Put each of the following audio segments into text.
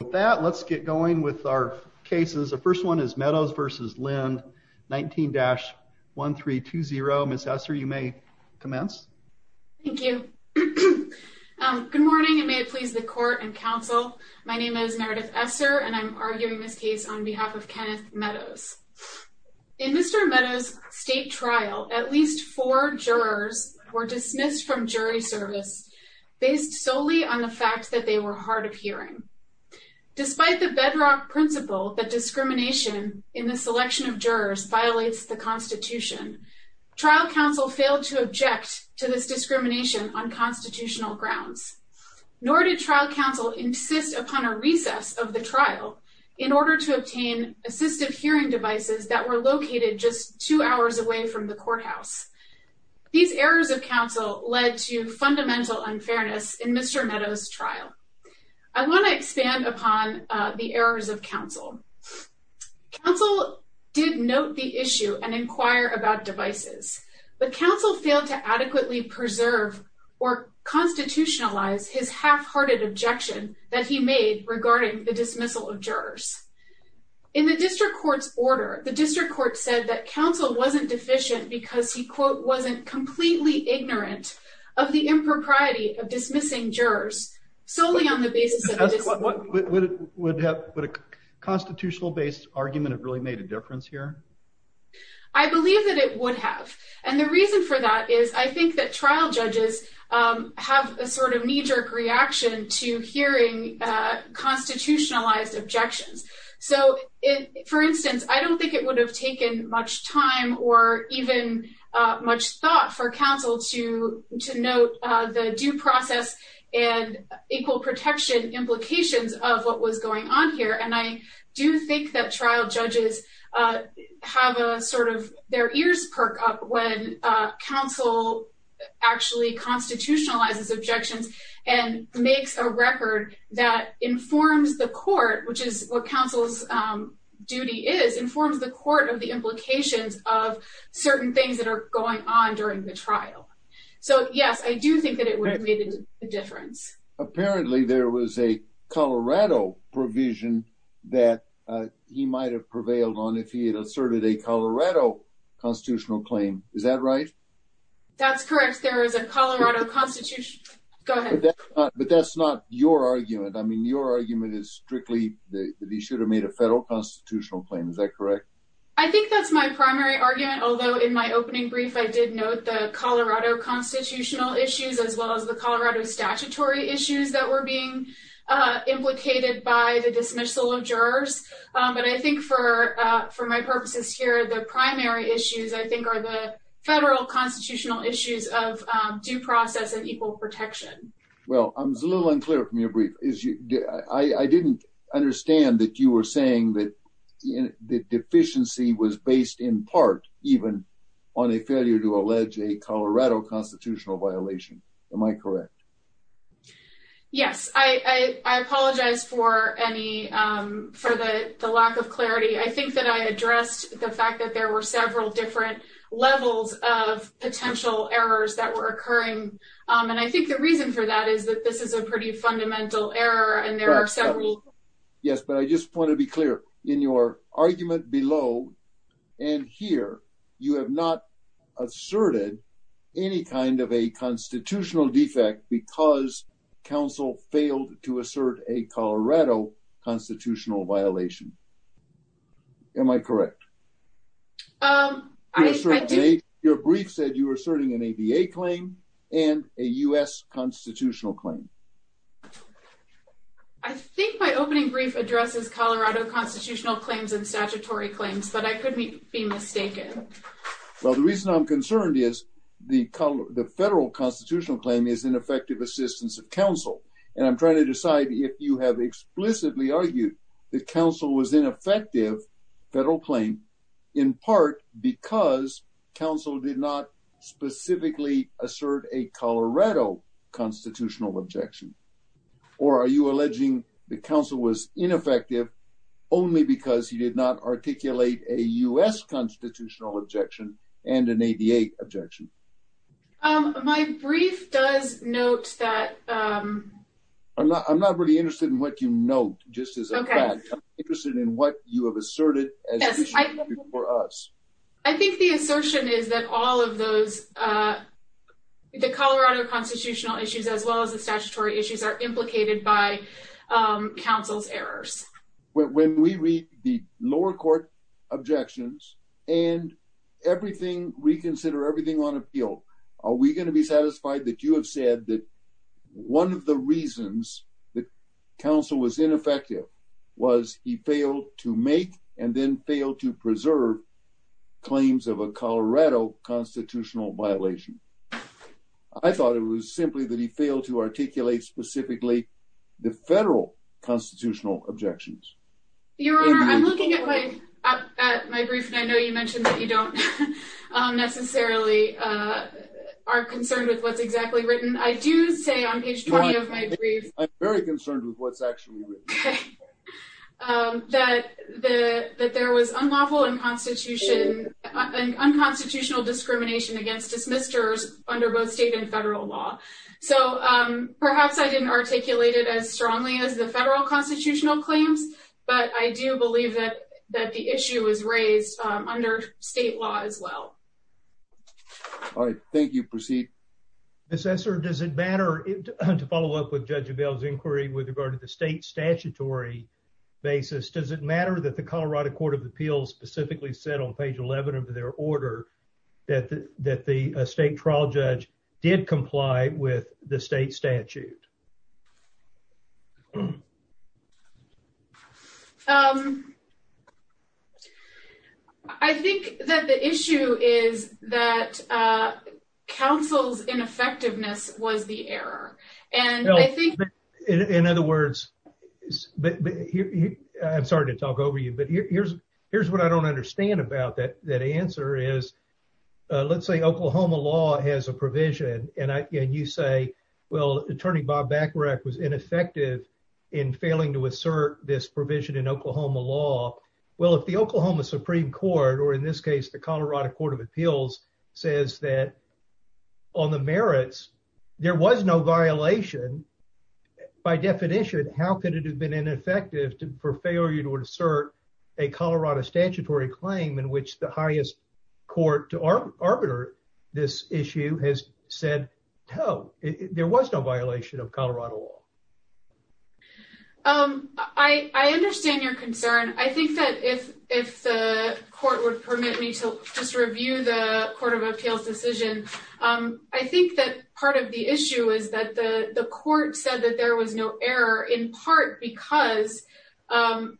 With that, let's get going with our cases. The first one is Meadows v. Lind, 19-1320. Ms. Esser, you may commence. Thank you. Good morning, and may it please the court and counsel. My name is Meredith Esser, and I'm arguing this case on behalf of Kenneth Meadows. In Mr. Meadows' state trial, at least four jurors were dismissed from jury service based solely on the fact that they were hard of hearing. Despite the bedrock principle that discrimination in the selection of jurors violates the Constitution, trial counsel failed to object to this discrimination on constitutional grounds. Nor did trial counsel insist upon a recess of the trial in order to obtain assistive hearing devices that were located just two hours away from the courthouse. These errors of counsel led to fundamental unfairness in Mr. Meadows' trial. I want to expand upon the errors of counsel. Counsel did note the issue and inquire about devices, but counsel failed to adequately preserve or constitutionalize his half-hearted objection that he made regarding the dismissal of jurors. In the district court's order, the district court said that counsel wasn't deficient because he, quote, wasn't completely ignorant of the impropriety of dismissing jurors solely on the basis of... Would a constitutional-based argument have really made a difference here? I believe that it would have, and the reason for that is I think that trial judges have a sort of knee-jerk reaction to hearing constitutionalized objections. So, for instance, I don't think it would have taken much time or even much thought for counsel to note the due process and equal protection implications of what was going on here, and I do think that trial judges have a sort of their ears perk up when counsel actually constitutionalizes objections and makes a record that informs the court, which is what counsel's duty is, informs the court of the implications of certain things that are going on during the trial. So, yes, I do think that it would have made a difference. Apparently, there was a Colorado provision that he might have prevailed on if he had asserted a Colorado constitutional claim. Is that right? That's correct. There is a but that's not your argument. I mean, your argument is strictly that he should have made a federal constitutional claim. Is that correct? I think that's my primary argument, although in my opening brief, I did note the Colorado constitutional issues as well as the Colorado statutory issues that were being implicated by the dismissal of jurors, but I think for my purposes here, the primary issues I think are the federal constitutional issues of due process and equal protection. Well, I was a little unclear from your brief. I didn't understand that you were saying that the deficiency was based in part even on a failure to allege a Colorado constitutional violation. Am I correct? Yes, I apologize for the lack of clarity. I think that I addressed the fact that there were several different levels of potential errors that were occurring, and I think the reason for that is that this is a pretty fundamental error and there are several. Yes, but I just want to be clear. In your argument below and here, you have not asserted any kind of a constitutional defect because counsel failed to assert a Colorado constitutional violation. Am I correct? Your brief said you were asserting an ABA claim and a U.S. constitutional claim. I think my opening brief addresses Colorado constitutional claims and statutory claims, but I could be mistaken. Well, the reason I'm concerned is the federal constitutional claim is an effective assistance of counsel, and I'm trying to decide if you have explicitly argued that counsel was ineffective federal claim in part because counsel did not specifically assert a Colorado constitutional objection, or are you alleging that counsel was ineffective only because he did not articulate a U.S. constitutional objection and an ABA objection? Um, my brief does note that, um... I'm not really interested in what you note, just as a fact. I'm interested in what you have asserted as an issue for us. I think the assertion is that all of those, uh, the Colorado constitutional issues as well as the statutory issues are implicated by counsel's errors. When we read the lower court objections and everything, reconsider everything on appeal, are we going to be satisfied that you have said that one of the reasons that counsel was ineffective was he failed to make and then fail to preserve claims of a Colorado constitutional violation? I thought it was simply that he failed to articulate specifically the federal constitutional objections. Your Honor, I'm looking at my, at my brief and I know you mentioned that you don't necessarily, uh, are concerned with what's exactly written. I do say on page 20 of my brief, I'm very concerned with what's actually written, um, that the, that there was unlawful and constitution, unconstitutional discrimination against dismissers under both state and federal law. So, um, perhaps I didn't articulate it as unlawful, but that issue was raised, um, under state law as well. All right. Thank you. Proceed. Mr. Esser, does it matter to follow up with Judge Abell's inquiry with regard to the state statutory basis? Does it matter that the Colorado court of appeals specifically said on page 11 of their order that the, that the state trial judge did comply with the state statute? Um, I think that the issue is that, uh, counsel's ineffectiveness was the error. And I think in other words, but I'm sorry to talk over you, but here's, here's what I don't understand about that. That answer is, uh, let's say Oklahoma law has a provision and I, and you say, well, attorney Bob Bacharach was ineffective in failing to assert this provision in Oklahoma law. Well, if the Oklahoma Supreme court, or in this case, the Colorado court of appeals says that on the merits, there was no violation by definition, how could it have been ineffective for failure to assert a Colorado statutory claim in which the highest court to our arbiter, this issue has said, Oh, there was no violation of Colorado law. Um, I, I understand your concern. I think that if, if the court would permit me to just review the court of appeals decision, um, I think that part of the issue is that the court said that there was no error in part because, um,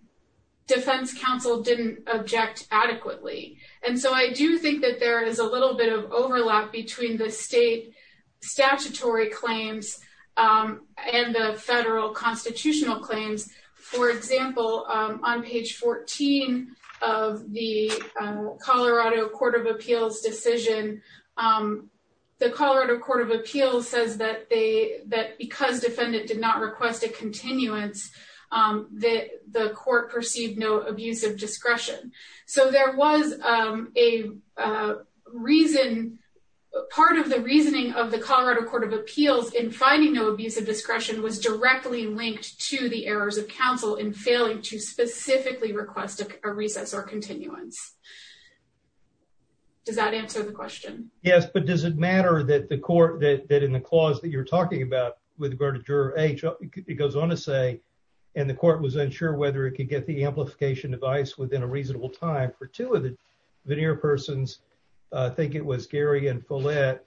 defense counsel didn't object adequately. And so I do think that there is a little bit of overlap between the state statutory claims, um, and the federal constitutional claims. For example, um, on page 14 of the, um, Colorado court of appeals decision, um, the Colorado court of appeals says that they, that because defendant did not request a continuance, um, that the court perceived no abuse of discretion. So there was, um, a, uh, reason, part of the reasoning of the Colorado court of appeals in finding no abuse of discretion was directly linked to the errors of counsel in failing to specifically request a recess or continuance. Does that answer the question? Yes. But does it matter that the court that, that in the clause that you're talking about with regard to juror H, it goes on to say, and the court was unsure whether it could get the amplification device within a reasonable time for two of the veneer persons. Uh, I think it was Gary and Follett,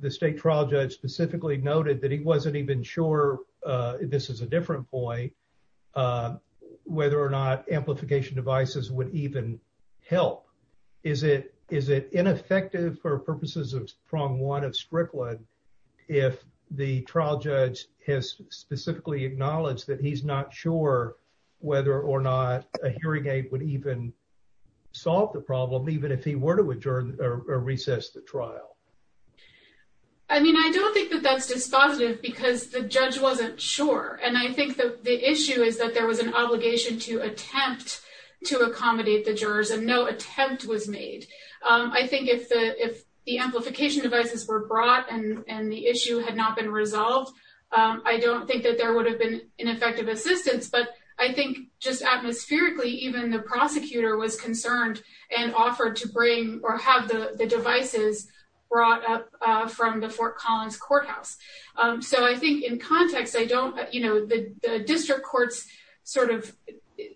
the state trial judge specifically noted that he wasn't even sure, uh, this is a different boy, uh, whether or not amplification devices would even help. Is it, is it ineffective for purposes of prong one of if the trial judge has specifically acknowledged that he's not sure whether or not a hearing aid would even solve the problem, even if he were to adjourn or recess the trial? I mean, I don't think that that's dispositive because the judge wasn't sure. And I think that the issue is that there was an obligation to attempt to accommodate the jurors and no attempt was made. Um, I think if the, if the amplification devices were brought and, and the issue had not been resolved, um, I don't think that there would have been an effective assistance, but I think just atmospherically, even the prosecutor was concerned and offered to bring or have the, the devices brought up, uh, from the Fort Collins courthouse. Um, so I think in context, I don't, you know, the, the district courts sort of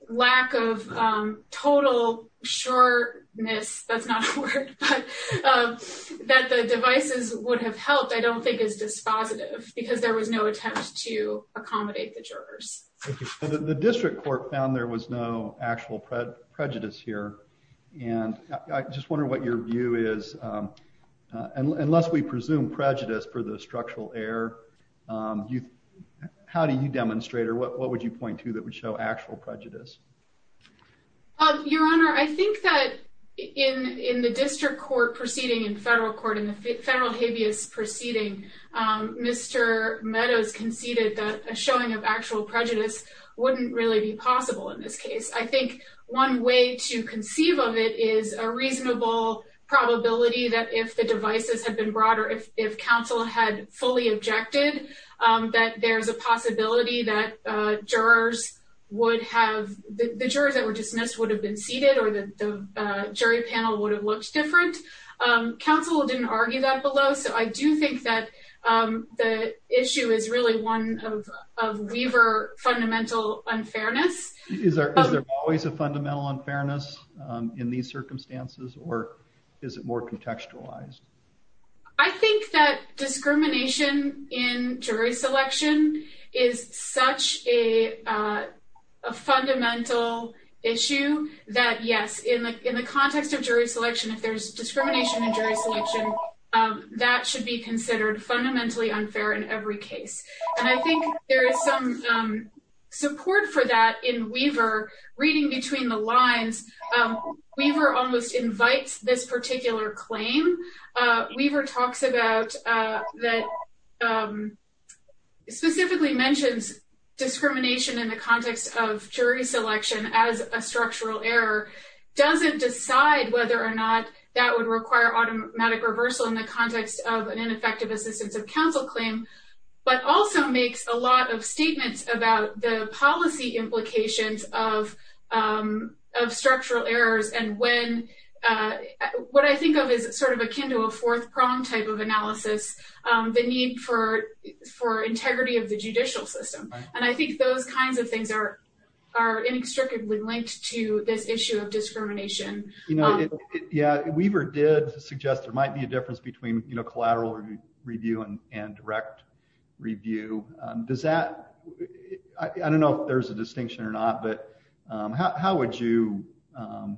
lack of, um, total shortness, that's not a word, but, um, that the devices would have helped. I don't think is dispositive because there was no attempt to accommodate the jurors. The district court found there was no actual prejudice here. And I just wonder what your view is. Um, uh, unless we presume prejudice for the structural error, um, you, how do you demonstrate or what, what would you point to that would show actual prejudice? Um, your honor, I think that in, in the district court proceeding in federal court in the federal habeas proceeding, um, Mr. Meadows conceded that a showing of actual prejudice wouldn't really be possible in this case. I think one way to conceive of it is a reasonable probability that if the objected, um, that there's a possibility that, uh, jurors would have, the jurors that were dismissed would have been seated or the, the, uh, jury panel would have looked different. Um, counsel didn't argue that below. So I do think that, um, the issue is really one of, of Weaver fundamental unfairness. Is there always a fundamental unfairness, um, in these circumstances, or is it more contextualized? I think that discrimination in jury selection is such a, uh, a fundamental issue that yes, in the, in the context of jury selection, if there's discrimination in jury selection, um, that should be considered fundamentally unfair in every case. And I think there is some, um, support for that in Weaver reading between the lines. Um, Weaver almost invites this particular claim. Uh, Weaver talks about, uh, that, um, specifically mentions discrimination in the context of jury selection as a structural error, doesn't decide whether or not that would require automatic reversal in the context of an ineffective assistance of counsel claim, but also makes a lot of statements about the policy implications of, um, of structural errors. And when, uh, what I think of is sort of akin to a fourth prong type of analysis, um, the need for, for integrity of the judicial system. And I think those kinds of things are, are inextricably linked to this issue of discrimination. You know, yeah, Weaver did suggest there might be a difference between, you know, I don't know if there's a distinction or not, but, um, how, how would you, um,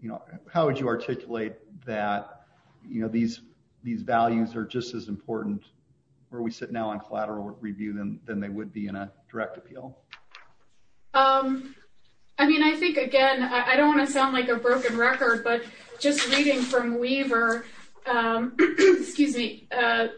you know, how would you articulate that, you know, these, these values are just as important where we sit now on collateral review them than they would be in a direct appeal. Um, I mean, I think again, I don't want to sound like a broken record, but just reading from Weaver, um, excuse me, uh,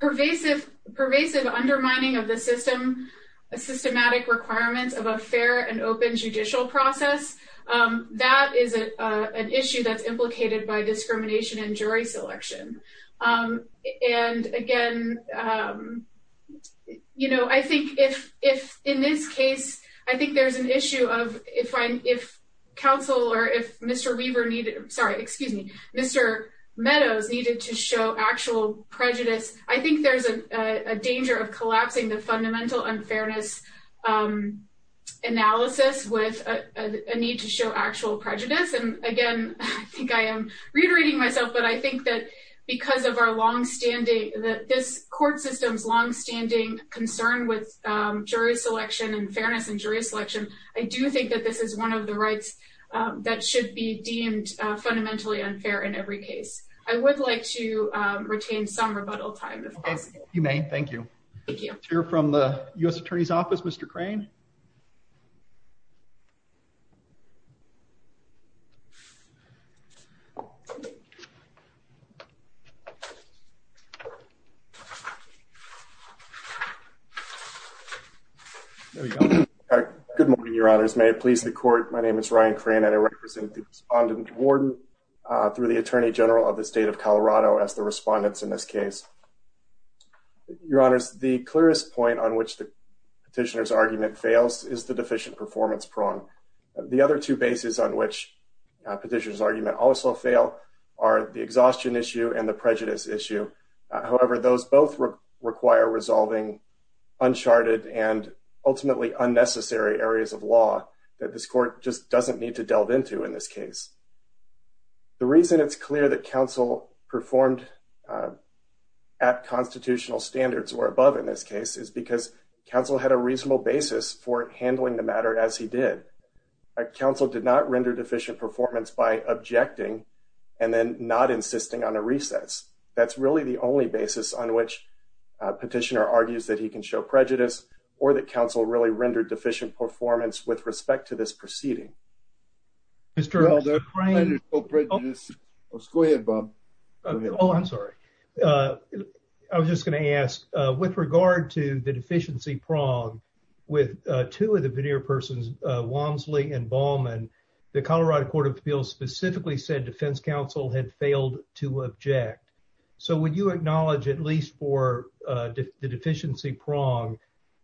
pervasive, pervasive undermining of the system, a systematic requirements of a fair and open judicial process. Um, that is, uh, an issue that's implicated by discrimination and jury selection. Um, and again, um, you know, I think if, if in this case, I think there's an issue of if I'm, if counsel or if Mr. Weaver needed, sorry, excuse me, Mr. Meadows needed to show actual prejudice, I think there's a, a danger of collapsing the fundamental unfairness, um, analysis with a need to show actual prejudice. And again, I think I am reiterating myself, but I think that because of our longstanding, that this court system's longstanding concern with, um, jury selection and fairness and jury fundamentally unfair in every case. I would like to, um, retain some rebuttal time. You may. Thank you. You're from the U. S. Attorney's office, Mr. Crane. Good morning, Your Honors. May it please the court. My name is Ryan Crane and I represent the Respondent Warden, uh, through the Attorney General of the state of Colorado as the respondents in this case. Your Honors, the clearest point on which the petitioner's argument fails is the deficient performance prong. The other two bases on which a petitioner's argument also fail are the exhaustion issue and the prejudice issue. However, those both require resolving uncharted and the reason it's clear that counsel performed at constitutional standards or above in this case is because counsel had a reasonable basis for handling the matter as he did. Counsel did not render deficient performance by objecting and then not insisting on a recess. That's really the only basis on which petitioner argues that he can show prejudice or that counsel really rendered deficient performance with respect to this proceeding. Mr. Crane. Go ahead, Bob. Oh, I'm sorry. Uh, I was just gonna ask, uh, with regard to the deficiency prong with two of the veneer persons, uh, Wamsley and Ballman, the Colorado Court of Appeals specifically said defense counsel had failed to object. So would you acknowledge at least for the deficiency prong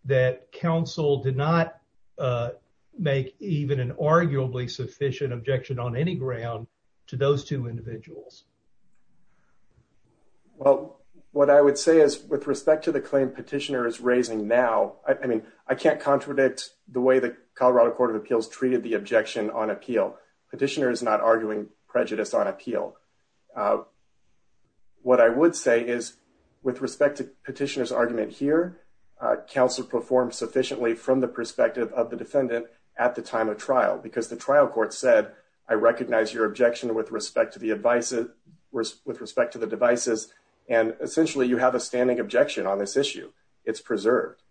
that counsel did not make even an arguably sufficient objection on any ground to those two individuals? Well, what I would say is with respect to the claim petitioner is raising now, I mean, I can't contradict the way the Colorado Court of Appeals treated the objection on appeal. Petitioner is not arguing prejudice on appeal. Uh, what I would say is with respect to petitioner's argument here, uh, counsel performed sufficiently from the perspective of the defendant at the time of trial because the trial court said I recognize your objection with respect to the advice with respect to the devices. And essentially you have a standing objection on this issue. It's preserved.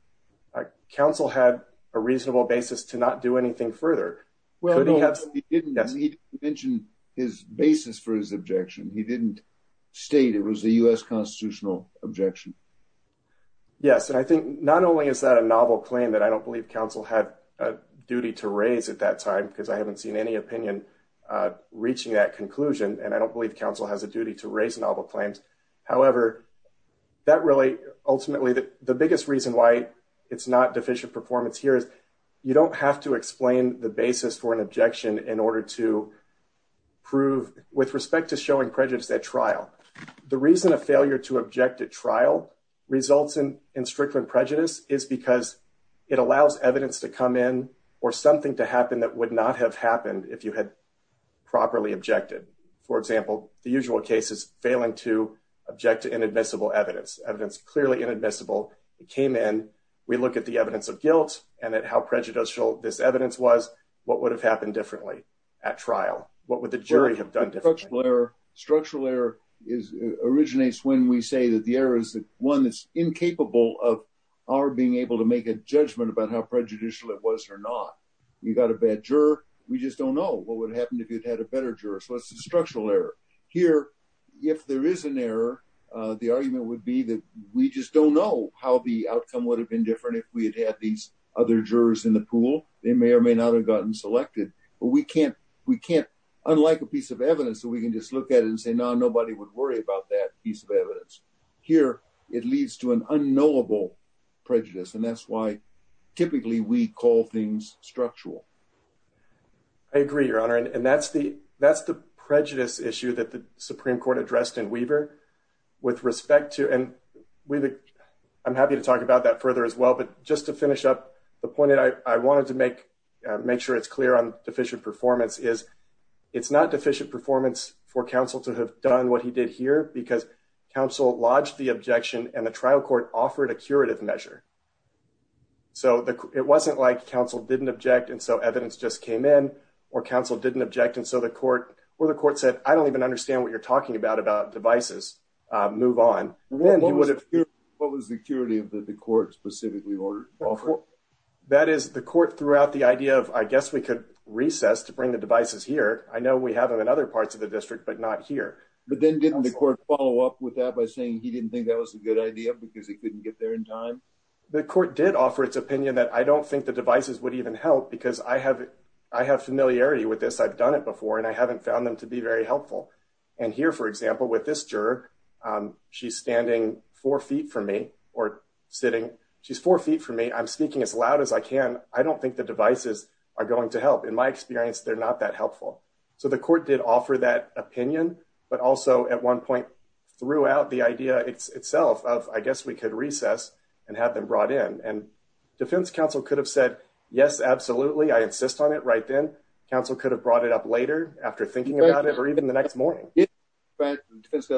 Uh, counsel had a reasonable basis to not do anything further. Well, he didn't mention his basis for his objection. He didn't state it was a U.S. constitutional objection. Yes. And I think not only is that a novel claim that I don't believe counsel had a duty to raise at that time because I haven't seen any opinion, uh, reaching that conclusion. And I don't believe counsel has a duty to raise novel claims. However, that really ultimately the biggest reason why it's not deficient performance here is you don't have to explain the basis for an objection in order to prove with respect to showing prejudice at trial. The reason a failure to object at trial results in in Strickland prejudice is because it allows evidence to come in or something to happen that would not have happened if you had properly objected. For example, the usual cases failing to object to inadmissible evidence, evidence clearly inadmissible. It came in. We look at the evidence of guilt and that how this evidence was, what would have happened differently at trial? What would the jury have done? Structural error originates when we say that the error is the one that's incapable of our being able to make a judgment about how prejudicial it was or not. You got a bad juror. We just don't know what would happen if you'd had a better juror. So it's a structural error here. If there is an error, the argument would be that we just don't know how the outcome would have been different if we had had these other jurors in the pool. They may or may not have gotten selected, but we can't. We can't. Unlike a piece of evidence that we can just look at and say, no, nobody would worry about that piece of evidence here. It leads to an unknowable prejudice, and that's why typically we call things structural. I agree, Your Honor, and that's the that's the prejudice issue that the Supreme Court addressed in Weaver with respect to, and I'm happy to talk about that further as well, but just to finish up the point that I wanted to make sure it's clear on deficient performance is it's not deficient performance for counsel to have done what he did here because counsel lodged the objection and the trial court offered a curative measure. So it wasn't like counsel didn't object and so evidence just came in or counsel didn't object and so the court or the court said, I don't even understand what you're talking about about devices. Move on. What was the security of the court specifically ordered? That is the court throughout the idea of, I guess we could recess to bring the devices here. I know we have them in other parts of the district, but not here. But then didn't the court follow up with that by saying he didn't think that was a good idea because he couldn't get there in time? The court did offer its opinion that I don't think the devices would even help because I have familiarity with this. I've done it before and I haven't found them to be very helpful. Here, for example, with this juror, she's standing four feet from me or sitting. She's four feet from me. I'm speaking as loud as I can. I don't think the devices are going to help. In my experience, they're not that helpful. So the court did offer that opinion, but also at one point threw out the idea itself of, I guess we could recess and have them brought in. Defense counsel could have said, yes, absolutely. I insist on it right then. Counsel could have brought it up later after thinking about it or even the next morning. Doesn't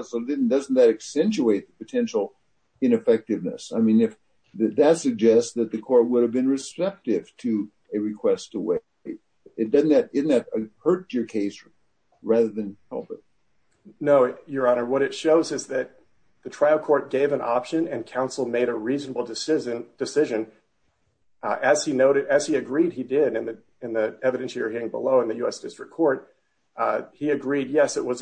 that accentuate the potential ineffectiveness? I mean, if that suggests that the court would have been respective to a request to wait, doesn't that hurt your case rather than help it? No, your honor. What it shows is that the trial court gave an option and counsel made a reasonable decision. As he noted, as he agreed, in the evidence you're hearing below in the U.S. District Court, he agreed, yes, it would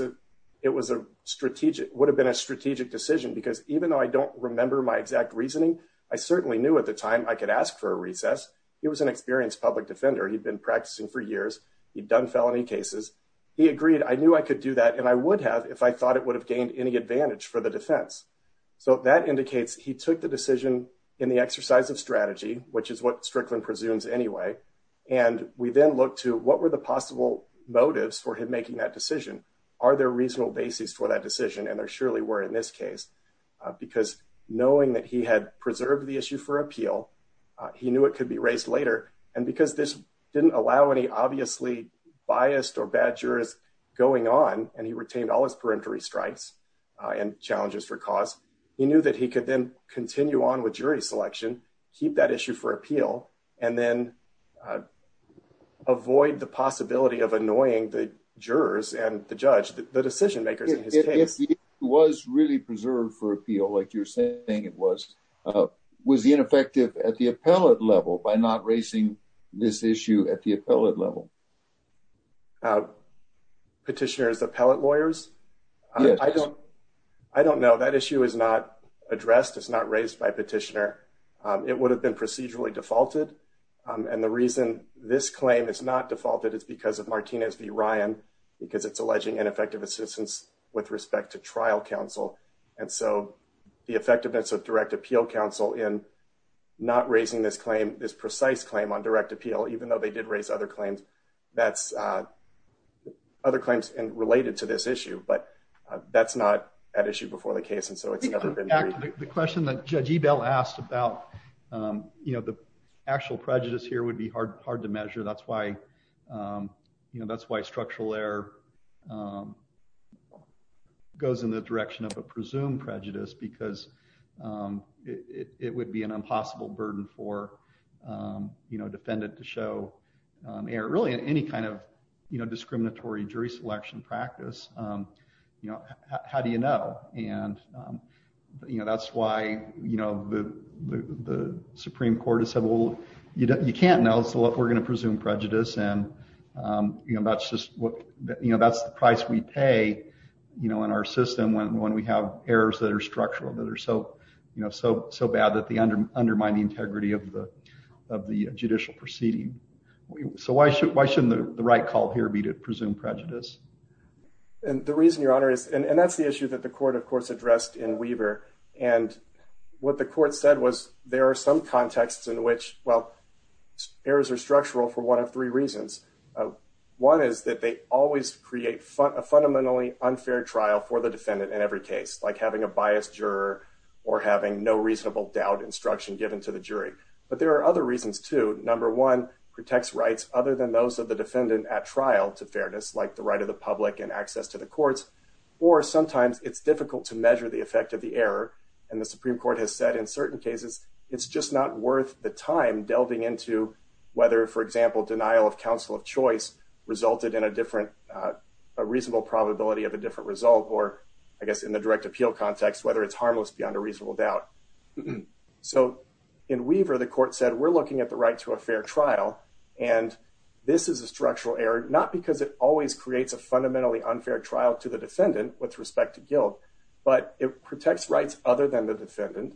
have been a strategic decision because even though I don't remember my exact reasoning, I certainly knew at the time I could ask for a recess. He was an experienced public defender. He'd been practicing for years. He'd done felony cases. He agreed, I knew I could do that and I would have if I thought it would have gained any advantage for the defense. So that indicates he took the decision in the exercise of strategy, which is what Strickland presumes anyway. And we then look to what were the possible motives for him making that decision? Are there reasonable bases for that decision? And there surely were in this case, because knowing that he had preserved the issue for appeal, he knew it could be raised later. And because this didn't allow any obviously biased or bad jurors going on and he retained all his peremptory strikes and challenges for cause, he knew that he could then continue on with jury selection, keep that issue for appeal, and then avoid the possibility of annoying the jurors and the judge, the decision makers in his case. If he was really preserved for appeal, like you're saying it was, was he ineffective at the appellate level by not raising this issue at the appellate level? Petitioners, appellate lawyers? I don't know. That issue is not addressed. It's not raised by petitioner. It would have been procedurally defaulted. And the reason this claim is not defaulted is because of Martinez v. Ryan, because it's alleging ineffective assistance with respect to trial counsel. And so the effectiveness of direct appeal counsel in not raising this claim, this precise claim on direct appeal, even though they did raise other claims, that's other claims and related to this issue. But that's not an issue before the case. And so it's never been the question that Judge Ebell asked about, you know, the actual prejudice here would be hard, hard to measure. That's why, you know, that's why structural error goes in the direction of a presumed prejudice, because it would be an impossible burden for you know, defendant to show error, really any kind of, you know, discriminatory jury selection practice. You know, how do you know? And, you know, that's why, you know, the Supreme Court has said, well, you can't know, so we're going to presume prejudice. And, you know, that's just what, you know, that's the price we pay, you know, in our system when we have errors that are of the judicial proceeding. So why shouldn't the right call here be to presume prejudice? And the reason, Your Honor, is, and that's the issue that the court, of course, addressed in Weaver. And what the court said was there are some contexts in which, well, errors are structural for one of three reasons. One is that they always create a fundamentally unfair trial for the defendant in every case, like having a biased juror or having no reasonable doubt instruction given to the jury. But there are other reasons too. Number one, protects rights other than those of the defendant at trial to fairness, like the right of the public and access to the courts. Or sometimes it's difficult to measure the effect of the error. And the Supreme Court has said in certain cases, it's just not worth the time delving into whether, for example, denial of counsel of choice resulted in a different, a reasonable probability of a different result, or I guess in the direct appeal context, whether it's harmless beyond a reasonable doubt. So in Weaver, the court said, we're looking at the right to a fair trial, and this is a structural error, not because it always creates a fundamentally unfair trial to the defendant with respect to guilt, but it protects rights other than the defendant,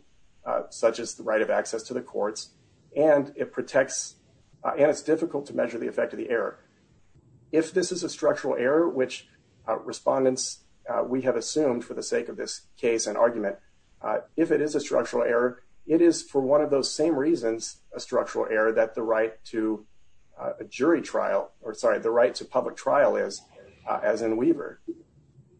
such as the right of access to the courts, and it protects, and it's difficult to measure the effect of the error. If this is a structural error, which respondents, we have assumed for the sake of this case and argument, if it is a structural error, it is for one of those same reasons, a structural error, that the right to a jury trial, or sorry, the right to public trial is, as in Weaver.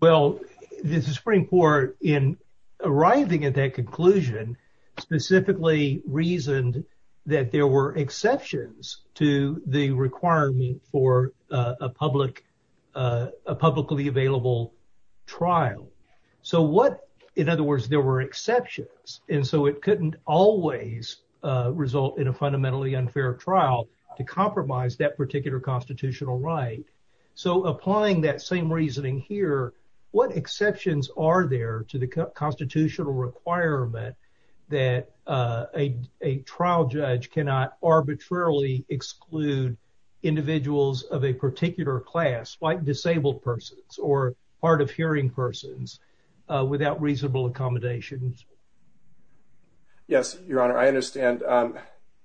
Well, the Supreme Court in arriving at that conclusion, specifically reasoned that there were exceptions to the exceptions, and so it couldn't always result in a fundamentally unfair trial to compromise that particular constitutional right. So applying that same reasoning here, what exceptions are there to the constitutional requirement that a trial judge cannot arbitrarily exclude individuals of a particular class, like disabled persons or hard of hearing persons, without reasonable accommodations? Yes, Your Honor, I understand.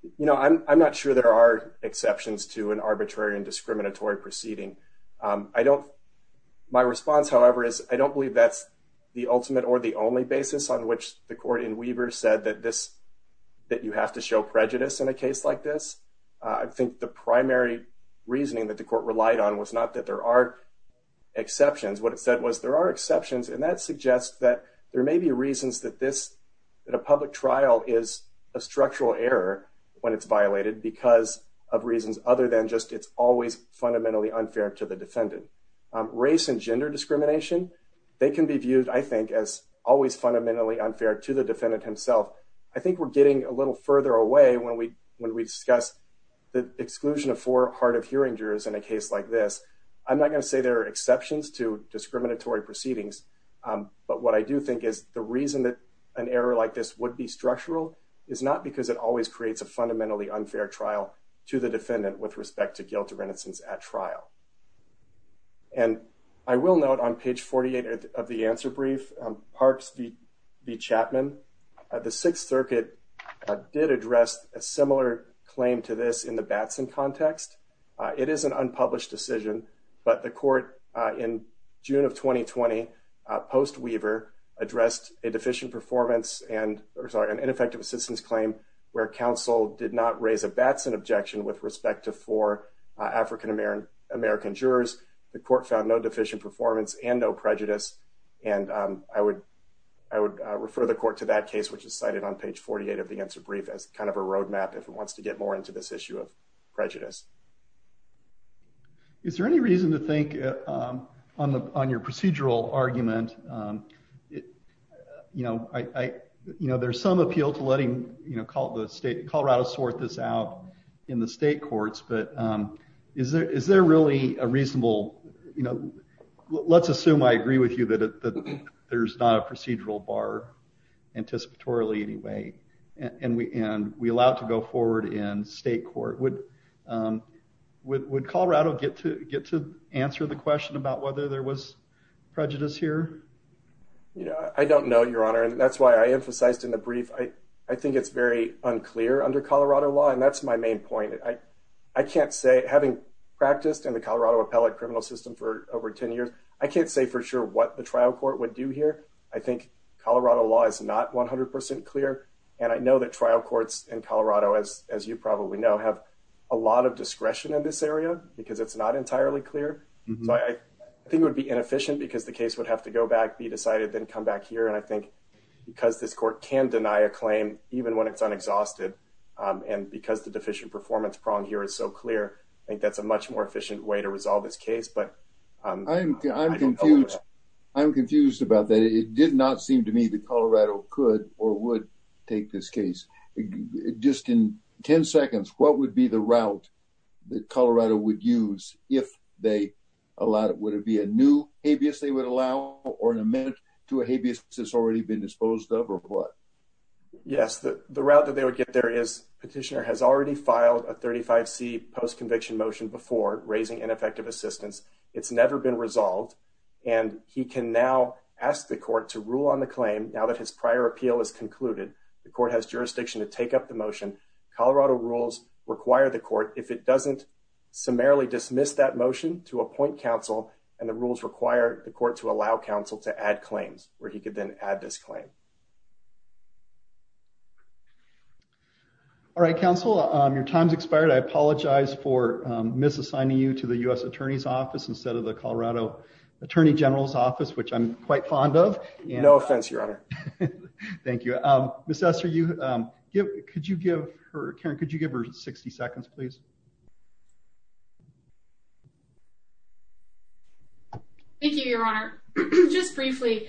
You know, I'm not sure there are exceptions to an arbitrary and discriminatory proceeding. I don't, my response, however, is I don't believe that's the ultimate or the only basis on which the court in Weaver said that this, that you have to show prejudice in a case like this. I think the primary reasoning that the court relied on was not that there are exceptions. What it said was there are exceptions, and that suggests that there may be reasons that this, that a public trial is a structural error when it's violated because of reasons other than just it's always fundamentally unfair to the defendant. Race and gender discrimination, they can be viewed, I think, as always fundamentally unfair to the defendant himself. I think we're getting a little further away when we discuss the exclusion of four hard of hearing jurors in a case like this. I'm not going to say there are exceptions to it, but what I do think is the reason that an error like this would be structural is not because it always creates a fundamentally unfair trial to the defendant with respect to guilt or innocence at trial. And I will note on page 48 of the answer brief, Parks v. Chapman, the Sixth Circuit did address a similar claim to this in the Batson context. It is an unpublished decision, but the court in June of 2020, post-Weaver, addressed a deficient performance and, or sorry, an ineffective assistance claim where counsel did not raise a Batson objection with respect to four African-American jurors. The court found no deficient performance and no prejudice, and I would refer the court to that case, which is cited on page 48 of the answer brief, as kind of a roadmap if it wants to get more into this issue of prejudice. Is there any reason to think on the, on your procedural argument, you know, I, you know, there's some appeal to letting, you know, Colorado sort this out in the state courts, but is there really a reasonable, you know, let's assume I agree with you that there's not a procedural bar anticipatorily anyway, and we allow it to go forward in state court. Would Colorado get to answer the question about whether there was prejudice here? Yeah, I don't know, Your Honor, and that's why I emphasized in the brief, I think it's very unclear under Colorado law, and that's my main point. I can't say, having practiced in the Colorado appellate criminal system for over 10 years, I can't say for sure what the trial court would do here. I think Colorado law is not 100% clear, and I know that trial courts in Colorado, as you probably know, have a lot of discretion in this area because it's not entirely clear, so I think it would be inefficient because the case would have to go back, be decided, then come back here, and I think because this court can deny a claim even when it's unexhausted, and because the deficient performance prong here is so clear, I think that's a much more efficient way to resolve this case, but I don't know. I'm confused about that. It did not seem to me that Colorado could or would take this case. Just in 10 seconds, what would be the route that Colorado would use if they allowed it? Would it be a new habeas they would allow or an amendment to a habeas that's already been disposed of or what? Yes, the route that they would get there is petitioner has already filed a 35c post-conviction motion before raising ineffective assistance. It's never been resolved, and he can now ask the court to rule on the claim now that his prior appeal is concluded. The court has jurisdiction to take up the motion. Colorado rules require the court, if it doesn't, summarily dismiss that motion to appoint counsel, and the rules require the court to allow counsel to add claims where he could then add this claim. All right, counsel, your time's expired. I apologize for misassigning you to the U.S. Attorney's Office instead of the Colorado Attorney General's Office, which I'm quite fond of. No offense, your honor. Thank you. Miss Ester, could you give her 60 seconds, please? Thank you, your honor. Just briefly,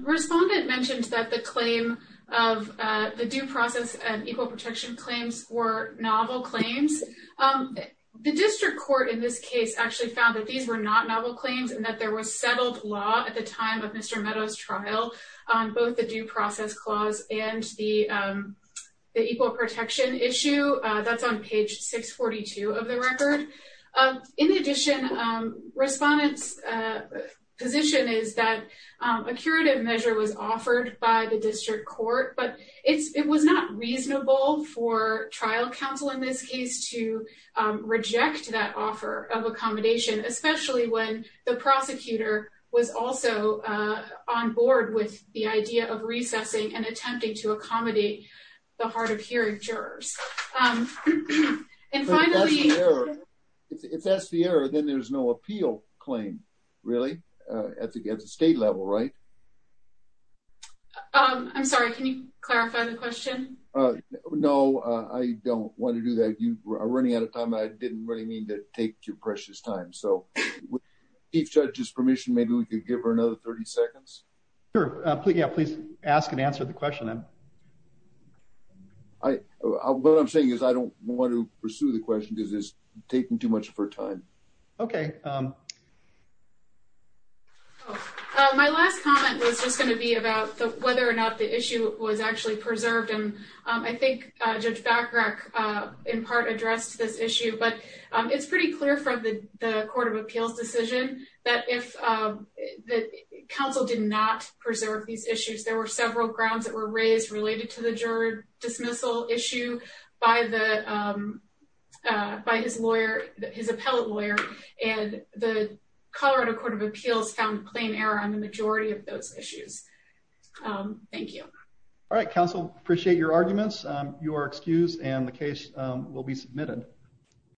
respondent mentioned that the claim of the due process and equal protection claims were novel claims. The district court in this case actually found that these were not novel claims and that there was settled law at the time of Mr. Meadows' trial on both the due process clause and the equal protection issue. That's on page 642 of the record. In addition, respondent's position is that a curative measure was offered by the district court, but it was not reasonable for trial counsel in this case to reject that offer of accommodation, especially when the prosecutor was also on board with the idea of recessing and attempting to accommodate the hard-of-hearing jurors. If that's the error, then there's no question. No, I don't want to do that. You are running out of time. I didn't really mean to take your precious time. So with Chief Judge's permission, maybe we could give her another 30 seconds. Sure. Yeah, please ask and answer the question. What I'm saying is I don't want to pursue the question because it's taking too much of her time. Okay. My last comment was just going to be about whether or not the issue was actually preserved. I think Judge Bacharach in part addressed this issue, but it's pretty clear from the Court of Appeals decision that if the counsel did not preserve these issues, there were several grounds that were raised related to the jury dismissal issue by his lawyer, his appellate lawyer, and the Colorado Court of Appeals found plain error on the majority of those issues. Thank you. All right, counsel, appreciate your arguments. You are excused and the case will be submitted.